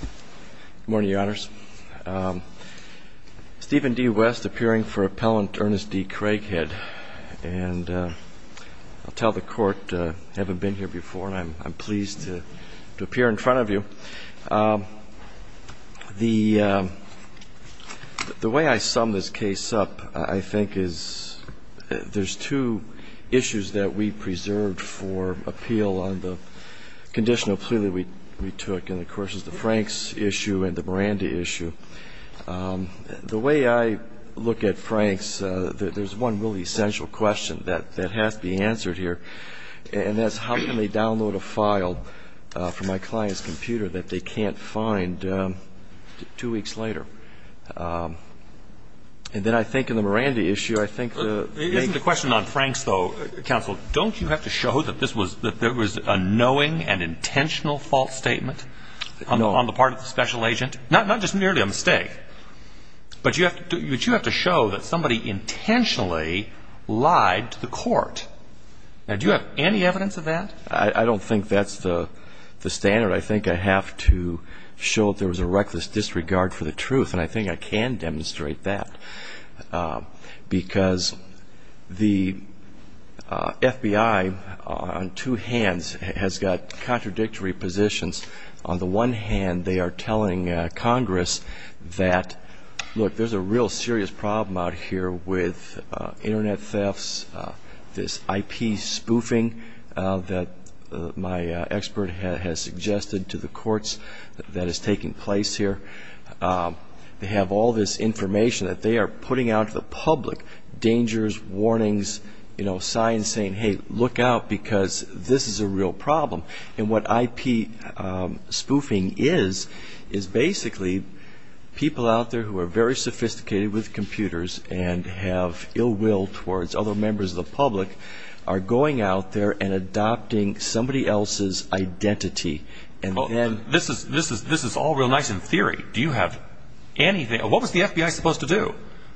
Good morning, Your Honors. Stephen D. West, appearing for Appellant Ernest D. Craighead, and I'll tell the Court I haven't been here before and I'm pleased to appear in front of you. The way I sum this case up, I think, is there's two issues that we preserved for appeal on the conditional plea that we took, and of course it's the Franks issue and the Miranda issue. The way I look at Franks, there's one really essential question that has to be answered here, and that's how can they download a file from my client's computer that they can't find two weeks later? And then I think in the Miranda issue, I think the... It isn't a question on Franks, though, Counsel. Don't you have to show that there was a knowing and intentional false statement on the part of the special agent? Not just merely a mistake, but you have to show that somebody intentionally lied to the Court. Do you have any evidence of that? I don't think that's the standard. I think I have to show that there was a reckless disregard for the truth, and I think I can demonstrate that. Because the FBI, on two hands, has got contradictory positions. On the one hand, they are telling Congress that, look, there's a real serious problem out here with Internet thefts, this IP spoofing that my expert has suggested to the courts that is taking place here. They have all this information that they are putting out to the public, dangers, warnings, signs saying, hey, look out because this is a real problem. And what IP spoofing is, is basically people out there who are very sophisticated with computers and have ill will towards other members of the public are going out there and adopting somebody else's identity. This is all real nice in theory. What was the FBI supposed to do?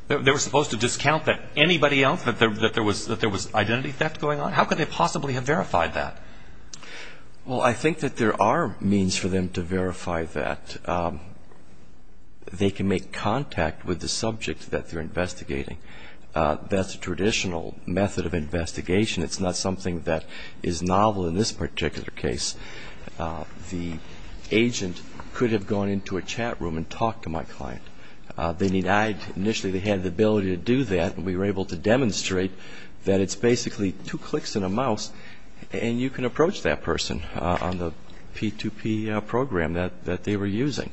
They were supposed to discount that anybody else, that there was identity theft going on? How could they possibly have verified that? Well, I think that there are means for them to verify that. They can make contact with the subject that they're investigating. That's a traditional method of investigation. It's not something that is novel in this particular case. The agent could have gone into a chat room and talked to my client. Initially, they had the ability to do that, and we were able to demonstrate that it's basically two clicks and a mouse, and you can approach that person on the P2P program that they were using.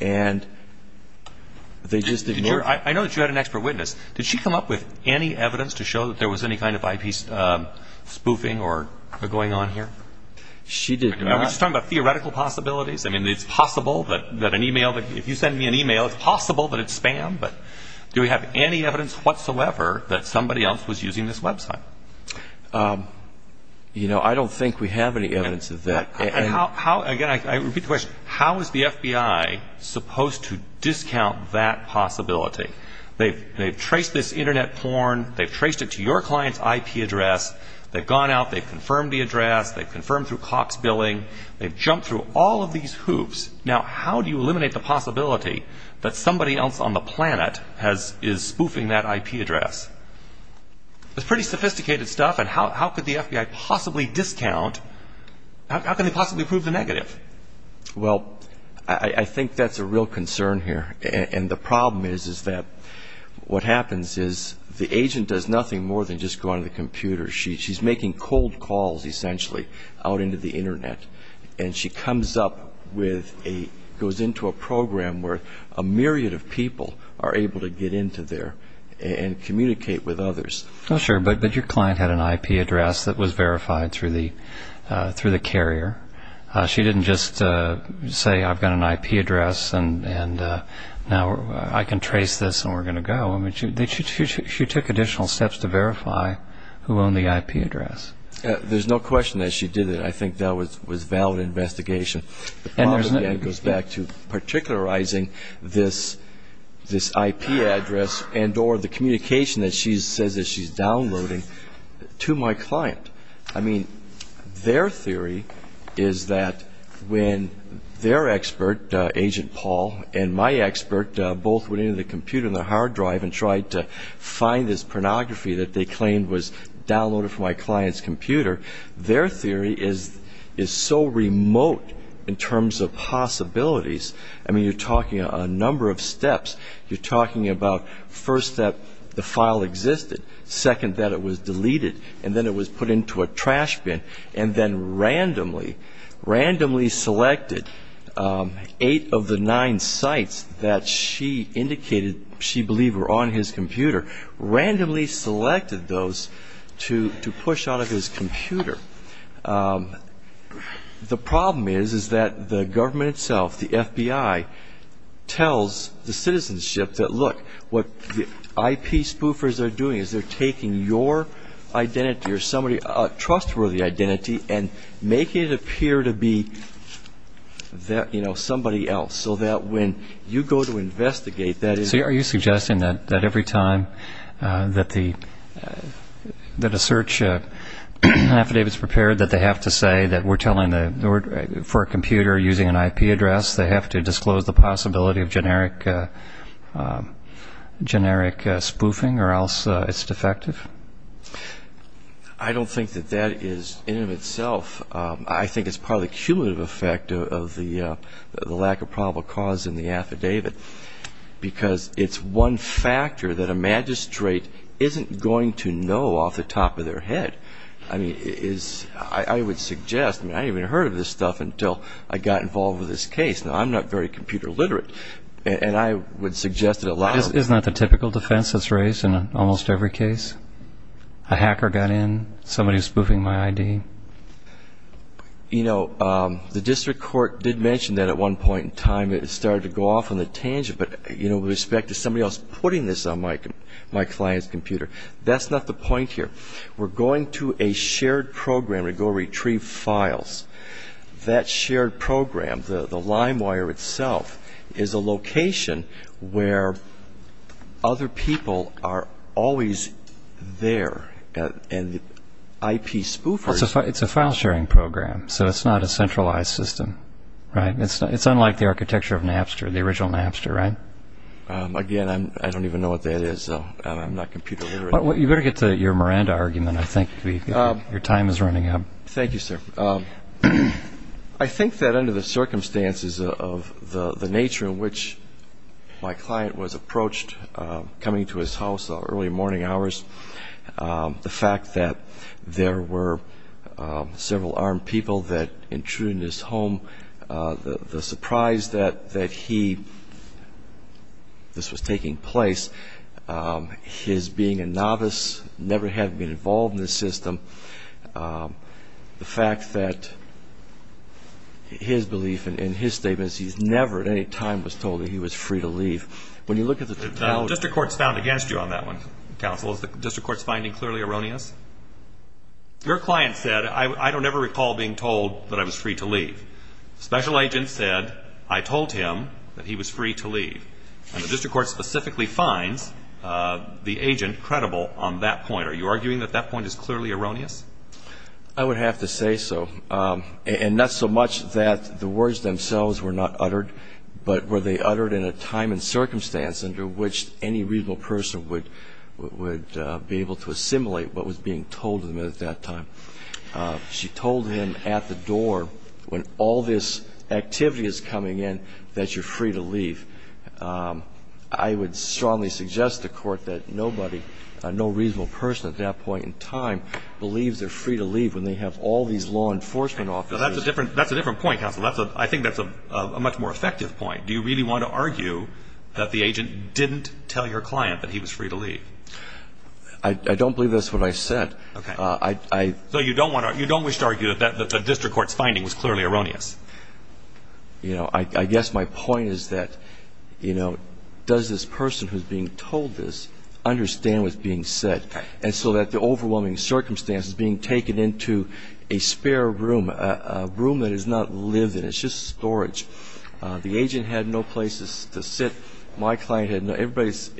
I know that you had an expert witness. Did she come up with any evidence to show that there was any kind of IP spoofing going on here? She did not. Are we just talking about theoretical possibilities? If you send me an email, it's possible that it's spam, but do we have any evidence whatsoever that somebody else was using this website? I don't think we have any evidence of that. Again, I repeat the question. How is the FBI supposed to discount that possibility? They've traced this Internet porn. They've traced it to your client's IP address. They've gone out. They've confirmed the address. They've confirmed through Cox billing. They've jumped through all of these hoops. Now, how do you eliminate the possibility that somebody else on the planet is spoofing that IP address? It's pretty sophisticated stuff, and how could the FBI possibly discount? How can they possibly prove the negative? Well, I think that's a real concern here, and the problem is that what happens is the agent does nothing more than just go on the computer. She's making cold calls, essentially, out into the Internet, and she goes into a program where a myriad of people are able to get into there and communicate with others. Sure, but your client had an IP address that was verified through the carrier. She didn't just say, I've got an IP address, and now I can trace this and we're going to go. She took additional steps to verify who owned the IP address. There's no question that she did it. I think that was a valid investigation. The problem, again, goes back to particularizing this IP address and or the communication that she says that she's downloading to my client. I mean, their theory is that when their expert, Agent Paul, and my expert both went into the computer on their hard drive and tried to find this pornography that they claimed was downloaded from my client's computer, their theory is so remote in terms of possibilities. I mean, you're talking a number of steps. You're talking about, first, that the file existed, second, that it was deleted, and then it was put into a trash bin, and then randomly, randomly selected eight of the nine sites that she indicated she believed were on his computer, randomly selected those to push out of his computer. The problem is, is that the government itself, the FBI, tells the citizenship that, look, what the IP spoofers are doing is they're taking your identity or somebody's trustworthy identity and making it appear to be somebody else so that when you go to investigate, that is... So are you suggesting that every time that a search affidavit is prepared, that they have to say that we're telling for a computer using an IP address, they have to disclose the possibility of generic spoofing or else it's defective? I don't think that that is in and of itself. I think it's part of the cumulative effect of the lack of probable cause in the affidavit because it's one factor that a magistrate isn't going to know off the top of their head. I mean, I would suggest, I mean, I haven't even heard of this stuff until I got involved with this case. Now, I'm not very computer literate, and I would suggest that a lot of... Isn't that the typical defense that's raised in almost every case? A hacker got in, somebody's spoofing my ID. You know, the district court did mention that at one point in time. It started to go off on a tangent, but, you know, with respect to somebody else putting this on my client's computer, that's not the point here. We're going to a shared program to go retrieve files. That shared program, the LimeWire itself, is a location where other people are always there, and the IP spoofers... It's a file sharing program, so it's not a centralized system, right? It's unlike the architecture of Napster, the original Napster, right? Again, I don't even know what that is, so I'm not computer literate. You better get to your Miranda argument. I think your time is running out. Thank you, sir. I think that under the circumstances of the nature in which my client was approached coming to his house at early morning hours, the fact that there were several armed people that intruded in his home, the surprise that this was taking place, his being a novice, never having been involved in the system, the fact that his belief in his statements, he's never at any time was told that he was free to leave. When you look at the... The district court's found against you on that one, counsel. Is the district court's finding clearly erroneous? Your client said, I don't ever recall being told that I was free to leave. Special agent said, I told him that he was free to leave. And the district court specifically finds the agent credible on that point. Are you arguing that that point is clearly erroneous? I would have to say so. And not so much that the words themselves were not uttered, but were they uttered in a time and circumstance under which any reasonable person would be able to assimilate what was being told to them at that time. She told him at the door, when all this activity is coming in, that you're free to leave. I would strongly suggest to the court that nobody, no reasonable person at that point in time, believes they're free to leave when they have all these law enforcement officers. That's a different point, counsel. I think that's a much more effective point. Do you really want to argue that the agent didn't tell your client that he was free to leave? I don't believe that's what I said. Okay. So you don't wish to argue that the district court's finding was clearly erroneous? You know, I guess my point is that, you know, does this person who's being told this understand what's being said? And so that the overwhelming circumstance is being taken into a spare room, a room that is not lived in. It's just storage. The agent had no place to sit. My client had no place.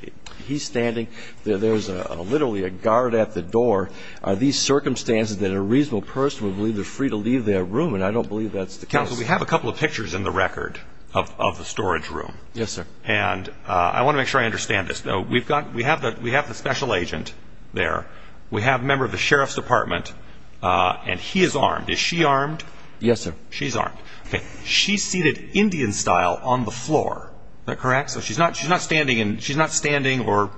He's standing. There's literally a guard at the door. Are these circumstances that a reasonable person would believe they're free to leave their room? And I don't believe that's the case. Counsel, we have a couple of pictures in the record of the storage room. Yes, sir. And I want to make sure I understand this, though. We have the special agent there. We have a member of the sheriff's department, and he is armed. Is she armed? Yes, sir. She's armed. Okay. She's seated Indian-style on the floor. Is that correct? So she's not standing or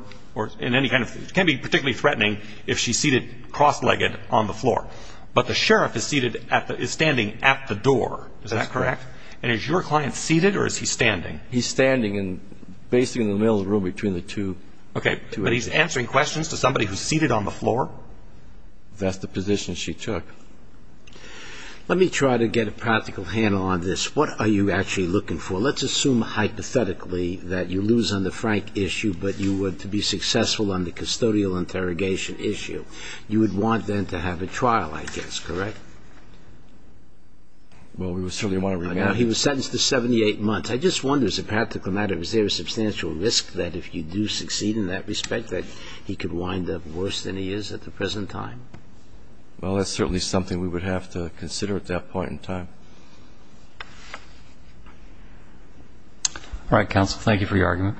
in any kind of ‑‑ it can be particularly threatening if she's seated cross-legged on the floor. But the sheriff is standing at the door. Is that correct? And is your client seated or is he standing? He's standing basically in the middle of the room between the two. Okay. But he's answering questions to somebody who's seated on the floor? That's the position she took. Let me try to get a practical handle on this. What are you actually looking for? Let's assume hypothetically that you lose on the Frank issue, but you were to be successful on the custodial interrogation issue. You would want then to have a trial, I guess, correct? Well, we would certainly want to ‑‑ Now, he was sentenced to 78 months. I just wonder, as a practical matter, is there a substantial risk that if you do succeed in that respect that he could wind up worse than he is at the present time? Well, that's certainly something we would have to consider at that point in time. All right, counsel, thank you for your argument.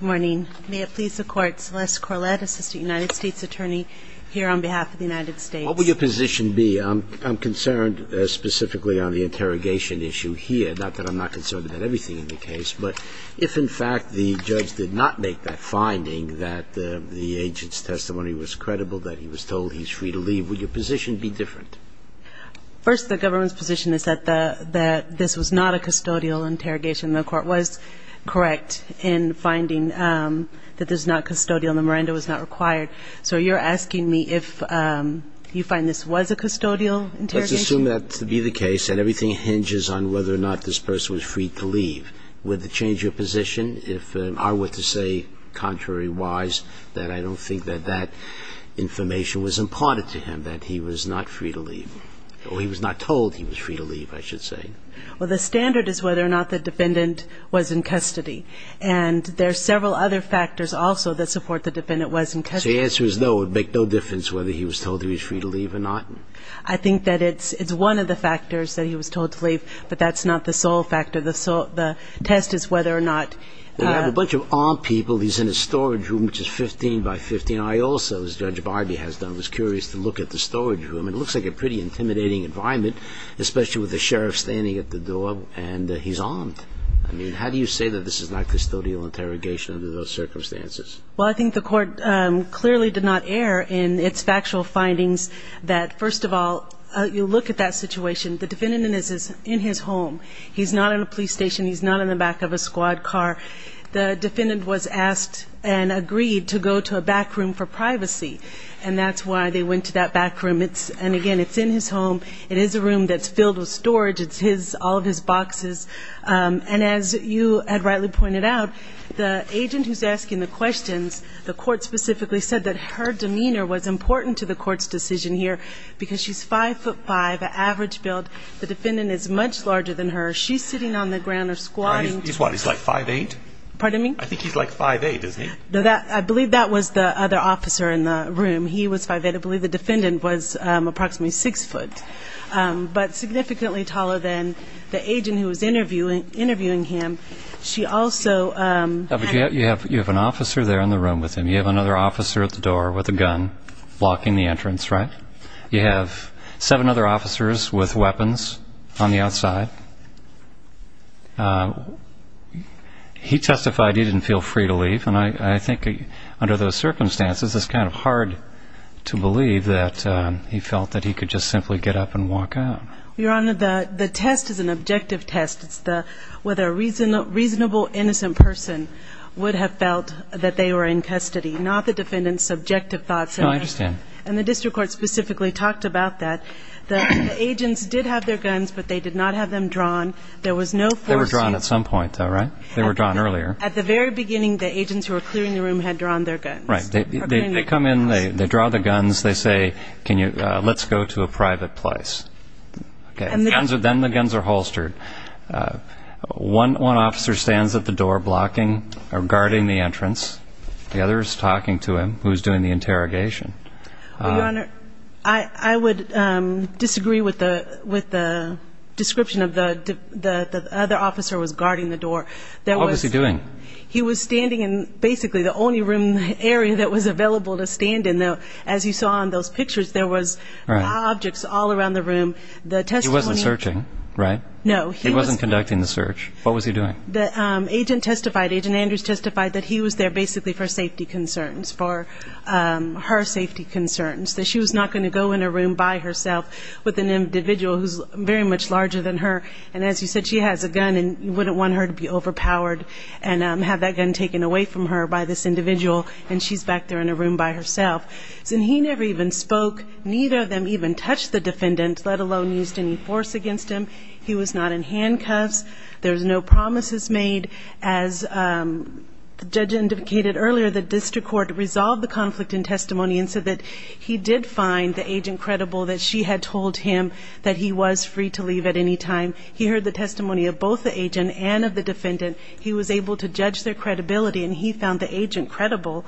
Good morning. May it please the Court, Celeste Corlett, Assistant United States Attorney here on behalf of the United States. What would your position be? I'm concerned specifically on the interrogation issue here, not that I'm not concerned about everything in the case, but if, in fact, the judge did not make that finding that the agent's testimony was credible, that he was told he's free to leave, First, the government's position is that this was not the case. This was not a custodial interrogation. The Court was correct in finding that this was not custodial and the Miranda was not required. So you're asking me if you find this was a custodial interrogation? Let's assume that to be the case and everything hinges on whether or not this person was free to leave. Would it change your position if I were to say contrary-wise that I don't think that that information was imparted to him, that he was not free to leave, or he was not told he was free to leave, I should say? Well, the standard is whether or not the defendant was in custody. And there are several other factors also that support the defendant was in custody. So the answer is no, it would make no difference whether he was told he was free to leave or not? I think that it's one of the factors that he was told to leave, but that's not the sole factor. The test is whether or not... They have a bunch of armed people. He's in a storage room, which is 15 by 15. I also, as Judge Barbee has done, was curious to look at the storage room. It looks like a pretty intimidating environment, especially with the sheriff standing at the door, and he's armed. How do you say that this is not custodial interrogation under those circumstances? Well, I think the court clearly did not err in its factual findings that, first of all, you look at that situation. The defendant is in his home. He's not in a police station. He's not in the back of a squad car. The defendant was asked and agreed to go to a back room for privacy, and that's why they went to that back room. And, again, it's in his home. It is a room that's filled with storage. It's all of his boxes. And as you had rightly pointed out, the agent who's asking the questions, the court specifically said that her demeanor was important to the court's decision here because she's 5'5", an average build. The defendant is much larger than her. She's sitting on the ground or squatting. He's what, he's like 5'8"? Pardon me? I think he's like 5'8", isn't he? I believe that was the other officer in the room. He was 5'8". I believe the defendant was approximately 6'0", but significantly taller than the agent who was interviewing him. She also had a... You have an officer there in the room with him. You have another officer at the door with a gun blocking the entrance, right? You have seven other officers with weapons on the outside. He testified he didn't feel free to leave, and I think under those circumstances it's kind of hard to believe that he felt that he could just simply get up and walk out. Your Honor, the test is an objective test. It's whether a reasonable, innocent person would have felt that they were in custody, not the defendant's subjective thoughts. No, I understand. The agents did have their guns, but they did not have them drawn. They were drawn at some point, though, right? They were drawn earlier. At the very beginning, the agents who were clearing the room had drawn their guns. Right. They come in, they draw the guns, they say, let's go to a private place. Then the guns are holstered. One officer stands at the door blocking or guarding the entrance. The other is talking to him, who is doing the interrogation. Your Honor, I would disagree with the description of the other officer was guarding the door. What was he doing? He was standing in basically the only room in the area that was available to stand in. As you saw in those pictures, there was objects all around the room. He wasn't searching, right? No. He wasn't conducting the search. What was he doing? The agent testified, Agent Andrews testified, that he was there basically for safety concerns, for her safety concerns, that she was not going to go in a room by herself with an individual who is very much larger than her. And as you said, she has a gun, and you wouldn't want her to be overpowered and have that gun taken away from her by this individual, and she's back there in a room by herself. And he never even spoke. Neither of them even touched the defendant, let alone used any force against him. He was not in handcuffs. There was no promises made. As the judge indicated earlier, the district court resolved the conflict in testimony and said that he did find the agent credible, that she had told him that he was free to leave at any time. He heard the testimony of both the agent and of the defendant. He was able to judge their credibility, and he found the agent credible.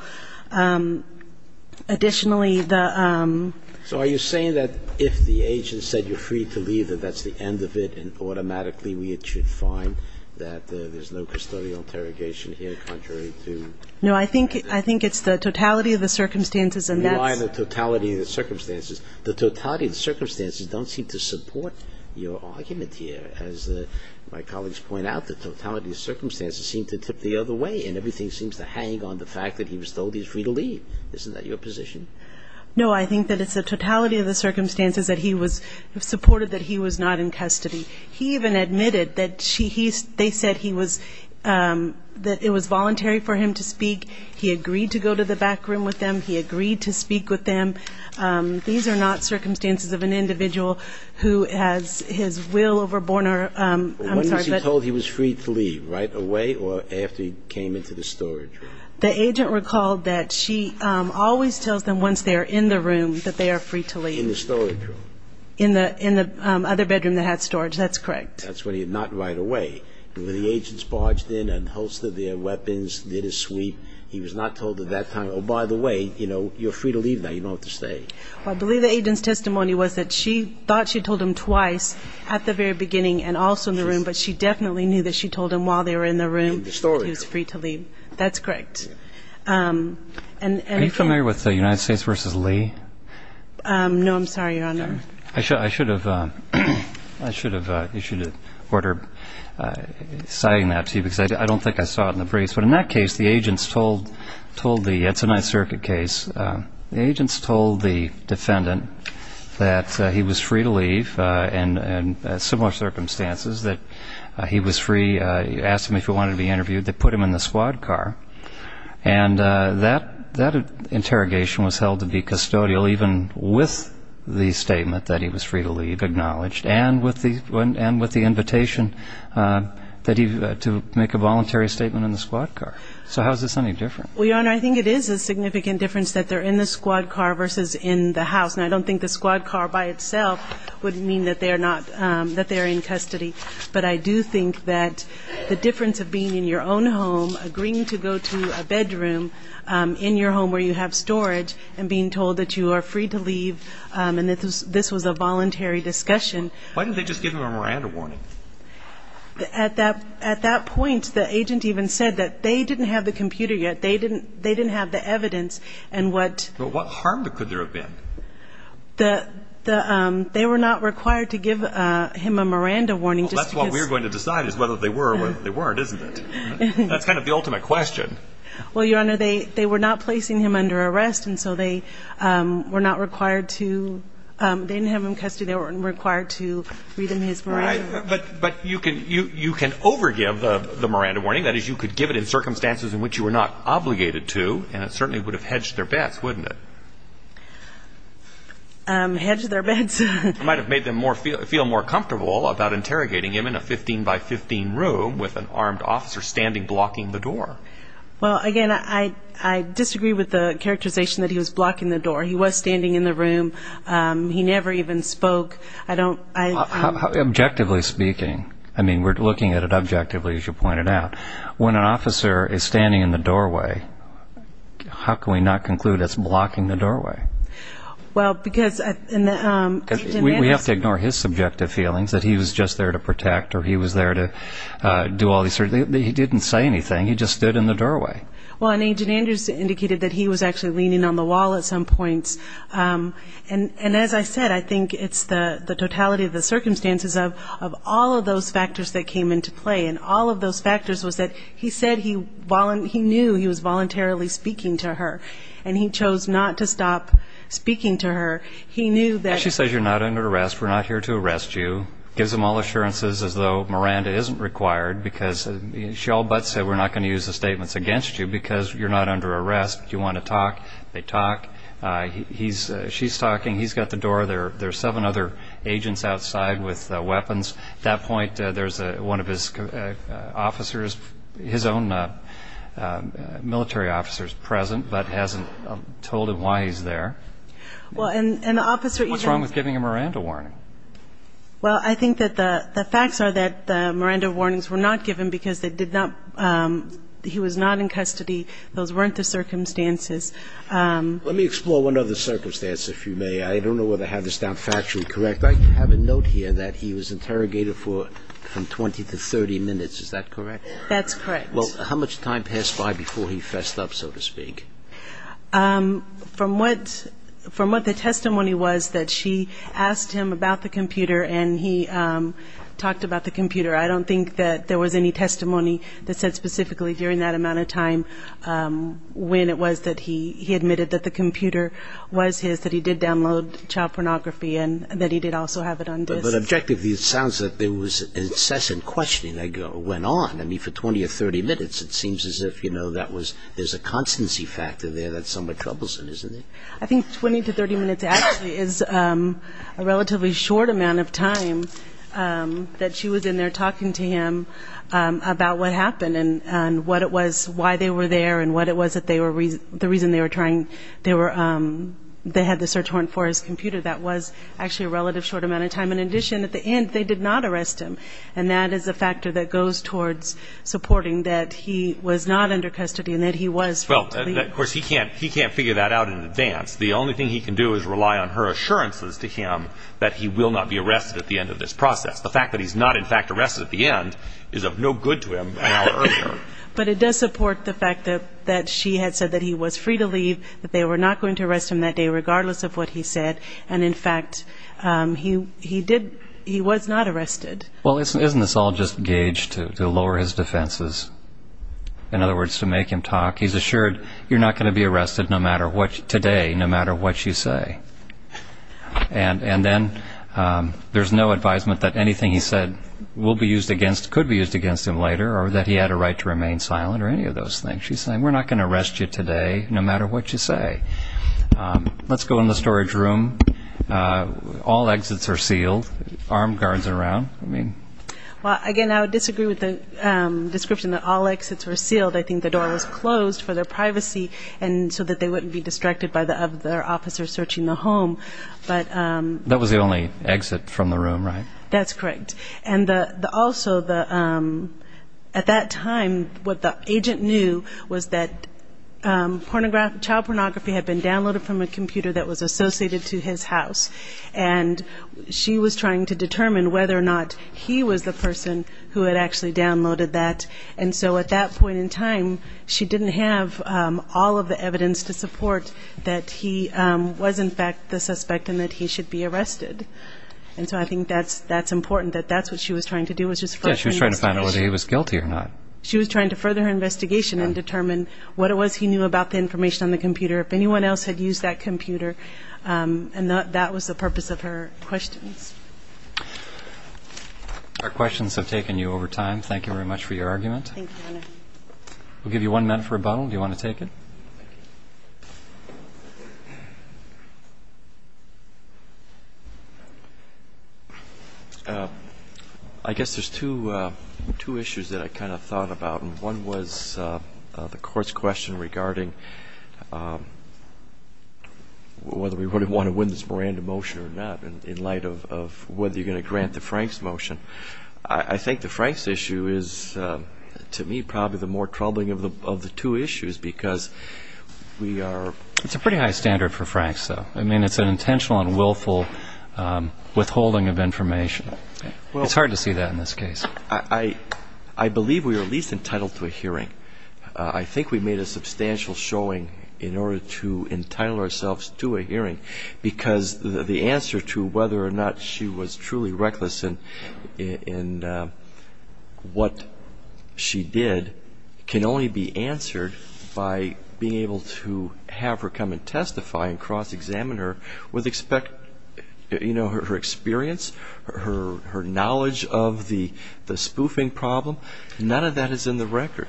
Additionally, the ---- So are you saying that if the agent said you're free to leave, that that's the end of it, and automatically we should find that there's no custodial interrogation here contrary to ---- No, I think it's the totality of the circumstances and that's ---- You are the totality of the circumstances. The totality of the circumstances don't seem to support your argument here. As my colleagues point out, the totality of the circumstances seem to tip the other way, and everything seems to hang on the fact that he was told he's free to leave. Isn't that your position? No, I think that it's the totality of the circumstances that he was ---- He even admitted that they said he was ---- that it was voluntary for him to speak. He agreed to go to the back room with them. He agreed to speak with them. These are not circumstances of an individual who has his will overborne or ---- When was he told he was free to leave, right away or after he came into the storage room? The agent recalled that she always tells them once they are in the room that they are free to leave. In the storage room? In the other bedroom that had storage. That's correct. That's when he ---- not right away. When the agents barged in and hosted their weapons, did a sweep, he was not told at that time, oh, by the way, you know, you're free to leave now. You don't have to stay. I believe the agent's testimony was that she thought she told him twice at the very beginning and also in the room, but she definitely knew that she told him while they were in the room. In the storage room. He was free to leave. That's correct. Are you familiar with the United States v. Lee? No, I'm sorry, Your Honor. I should have issued an order citing that to you because I don't think I saw it in the briefs. But in that case, the agents told the ---- it's a Ninth Circuit case. The agents told the defendant that he was free to leave in similar circumstances, that he was free, asked him if he wanted to be interviewed. They put him in the squad car. And that interrogation was held to be custodial even with the statement that he was free to leave, acknowledged, and with the invitation to make a voluntary statement in the squad car. So how is this any different? Well, Your Honor, I think it is a significant difference that they're in the squad car versus in the house. And I don't think the squad car by itself would mean that they're in custody. But I do think that the difference of being in your own home, agreeing to go to a bedroom in your home where you have storage, and being told that you are free to leave and that this was a voluntary discussion. Why didn't they just give him a Miranda warning? At that point, the agent even said that they didn't have the computer yet. They didn't have the evidence and what ---- What harm could there have been? They were not required to give him a Miranda warning just because ---- Well, that's what we're going to decide is whether they were or they weren't, isn't it? That's kind of the ultimate question. Well, Your Honor, they were not placing him under arrest, and so they were not required to ---- they didn't have him in custody. They weren't required to read him his Miranda. But you can overgive the Miranda warning. That is, you could give it in circumstances in which you were not obligated to, and it certainly would have hedged their bets, wouldn't it? Hedged their bets? It might have made them feel more comfortable about interrogating him in a 15-by-15 room with an armed officer standing blocking the door. Well, again, I disagree with the characterization that he was blocking the door. He was standing in the room. He never even spoke. Objectively speaking, I mean, we're looking at it objectively, as you pointed out, when an officer is standing in the doorway, how can we not conclude it's blocking the doorway? Well, because ---- We have to ignore his subjective feelings that he was just there to protect or he was there to do all these things. He didn't say anything. He just stood in the doorway. Well, and Agent Andrews indicated that he was actually leaning on the wall at some points. And as I said, I think it's the totality of the circumstances of all of those factors that came into play, and all of those factors was that he said he knew he was voluntarily speaking to her, and he chose not to stop speaking to her. He knew that ---- She says you're not under arrest, we're not here to arrest you, gives them all assurances as though Miranda isn't required because she all but said we're not going to use the statements against you because you're not under arrest, you want to talk, they talk. She's talking, he's got the door, there are seven other agents outside with weapons. At that point, there's one of his officers, his own military officers present, but hasn't told him why he's there. Well, and the officer ---- What's wrong with giving a Miranda warning? Well, I think that the facts are that the Miranda warnings were not given because they did not ---- he was not in custody. Those weren't the circumstances. Let me explore one other circumstance, if you may. I don't know whether I have this down factually correct. I have a note here that he was interrogated for from 20 to 30 minutes. Is that correct? That's correct. Well, how much time passed by before he fessed up, so to speak? From what the testimony was that she asked him about the computer and he talked about the computer, I don't think that there was any testimony that said specifically during that amount of time when it was that he admitted that the computer was his, that he did download child pornography, and that he did also have it on disk. But objectively, it sounds that there was incessant questioning that went on. I mean, for 20 or 30 minutes, it seems as if, you know, that was ---- there's a constancy factor there that's somewhat troublesome, isn't there? I think 20 to 30 minutes actually is a relatively short amount of time that she was in there talking to him about what happened and what it was, why they were there, and what it was that they were ---- the reason they were trying ---- they had the search warrant for his computer. That was actually a relative short amount of time. In addition, at the end, they did not arrest him, and that is a factor that goes towards supporting that he was not under custody and that he was free to leave. Well, of course, he can't figure that out in advance. The only thing he can do is rely on her assurances to him that he will not be arrested at the end of this process. The fact that he's not, in fact, arrested at the end is of no good to him an hour earlier. But it does support the fact that she had said that he was free to leave, that they were not going to arrest him that day, regardless of what he said, and, in fact, he was not arrested. Well, isn't this all just gauged to lower his defenses, in other words, to make him talk? He's assured you're not going to be arrested today, no matter what you say. And then there's no advisement that anything he said will be used against, could be used against him later or that he had a right to remain silent or any of those things. She's saying we're not going to arrest you today, no matter what you say. Let's go in the storage room. All exits are sealed, armed guards around. Well, again, I would disagree with the description that all exits were sealed. I think the door was closed for their privacy and so that they wouldn't be distracted by the other officers searching the home. That was the only exit from the room, right? That's correct. And also, at that time, what the agent knew was that child pornography had been downloaded from a computer that was associated to his house, and she was trying to determine whether or not he was the person who had actually downloaded that. And so at that point in time, she didn't have all of the evidence to support that he was, in fact, the suspect and that he should be arrested. And so I think that's important, that that's what she was trying to do was just flesh the investigation. Yeah, she was trying to find out whether he was guilty or not. She was trying to further her investigation and determine what it was he knew about the information on the computer, if anyone else had used that computer, and that was the purpose of her questions. Our questions have taken you over time. Thank you very much for your argument. Thank you, Your Honor. We'll give you one minute for a bundle. Do you want to take it? I guess there's two issues that I kind of thought about, and one was the Court's question regarding whether we would want to win this Miranda motion or not in light of whether you're going to grant the Franks motion. I think the Franks issue is, to me, probably the more troubling of the two issues because we are... It's a pretty high standard for Franks, though. I mean, it's an intentional and willful withholding of information. It's hard to see that in this case. I believe we were at least entitled to a hearing. I think we made a substantial showing in order to entitle ourselves to a hearing because the answer to whether or not she was truly reckless in what she did can only be answered by being able to have her come and testify and cross-examine her with her experience, her knowledge of the spoofing problem. None of that is in the record.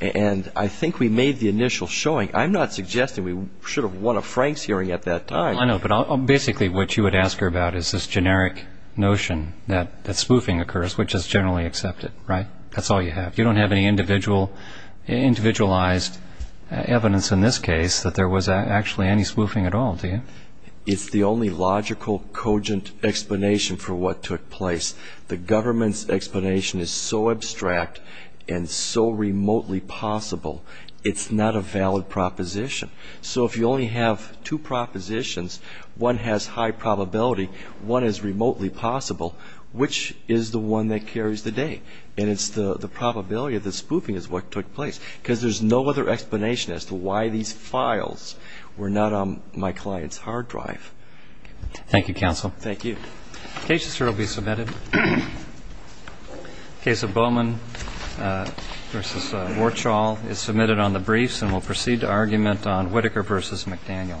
And I think we made the initial showing. I'm not suggesting we should have won a Franks hearing at that time. I know, but basically what you would ask her about is this generic notion that spoofing occurs, which is generally accepted, right? That's all you have. You don't have any individualized evidence in this case that there was actually any spoofing at all, do you? It's the only logical, cogent explanation for what took place. The government's explanation is so abstract and so remotely possible, it's not a valid proposition. So if you only have two propositions, one has high probability, one is remotely possible, which is the one that carries the day? And it's the probability of the spoofing is what took place because there's no other explanation as to why these files were not on my client's hard drive. Thank you, counsel. Thank you. The cases here will be submitted. The case of Bowman v. Warchall is submitted on the briefs and will proceed to argument on Whitaker v. McDaniel. Thank you.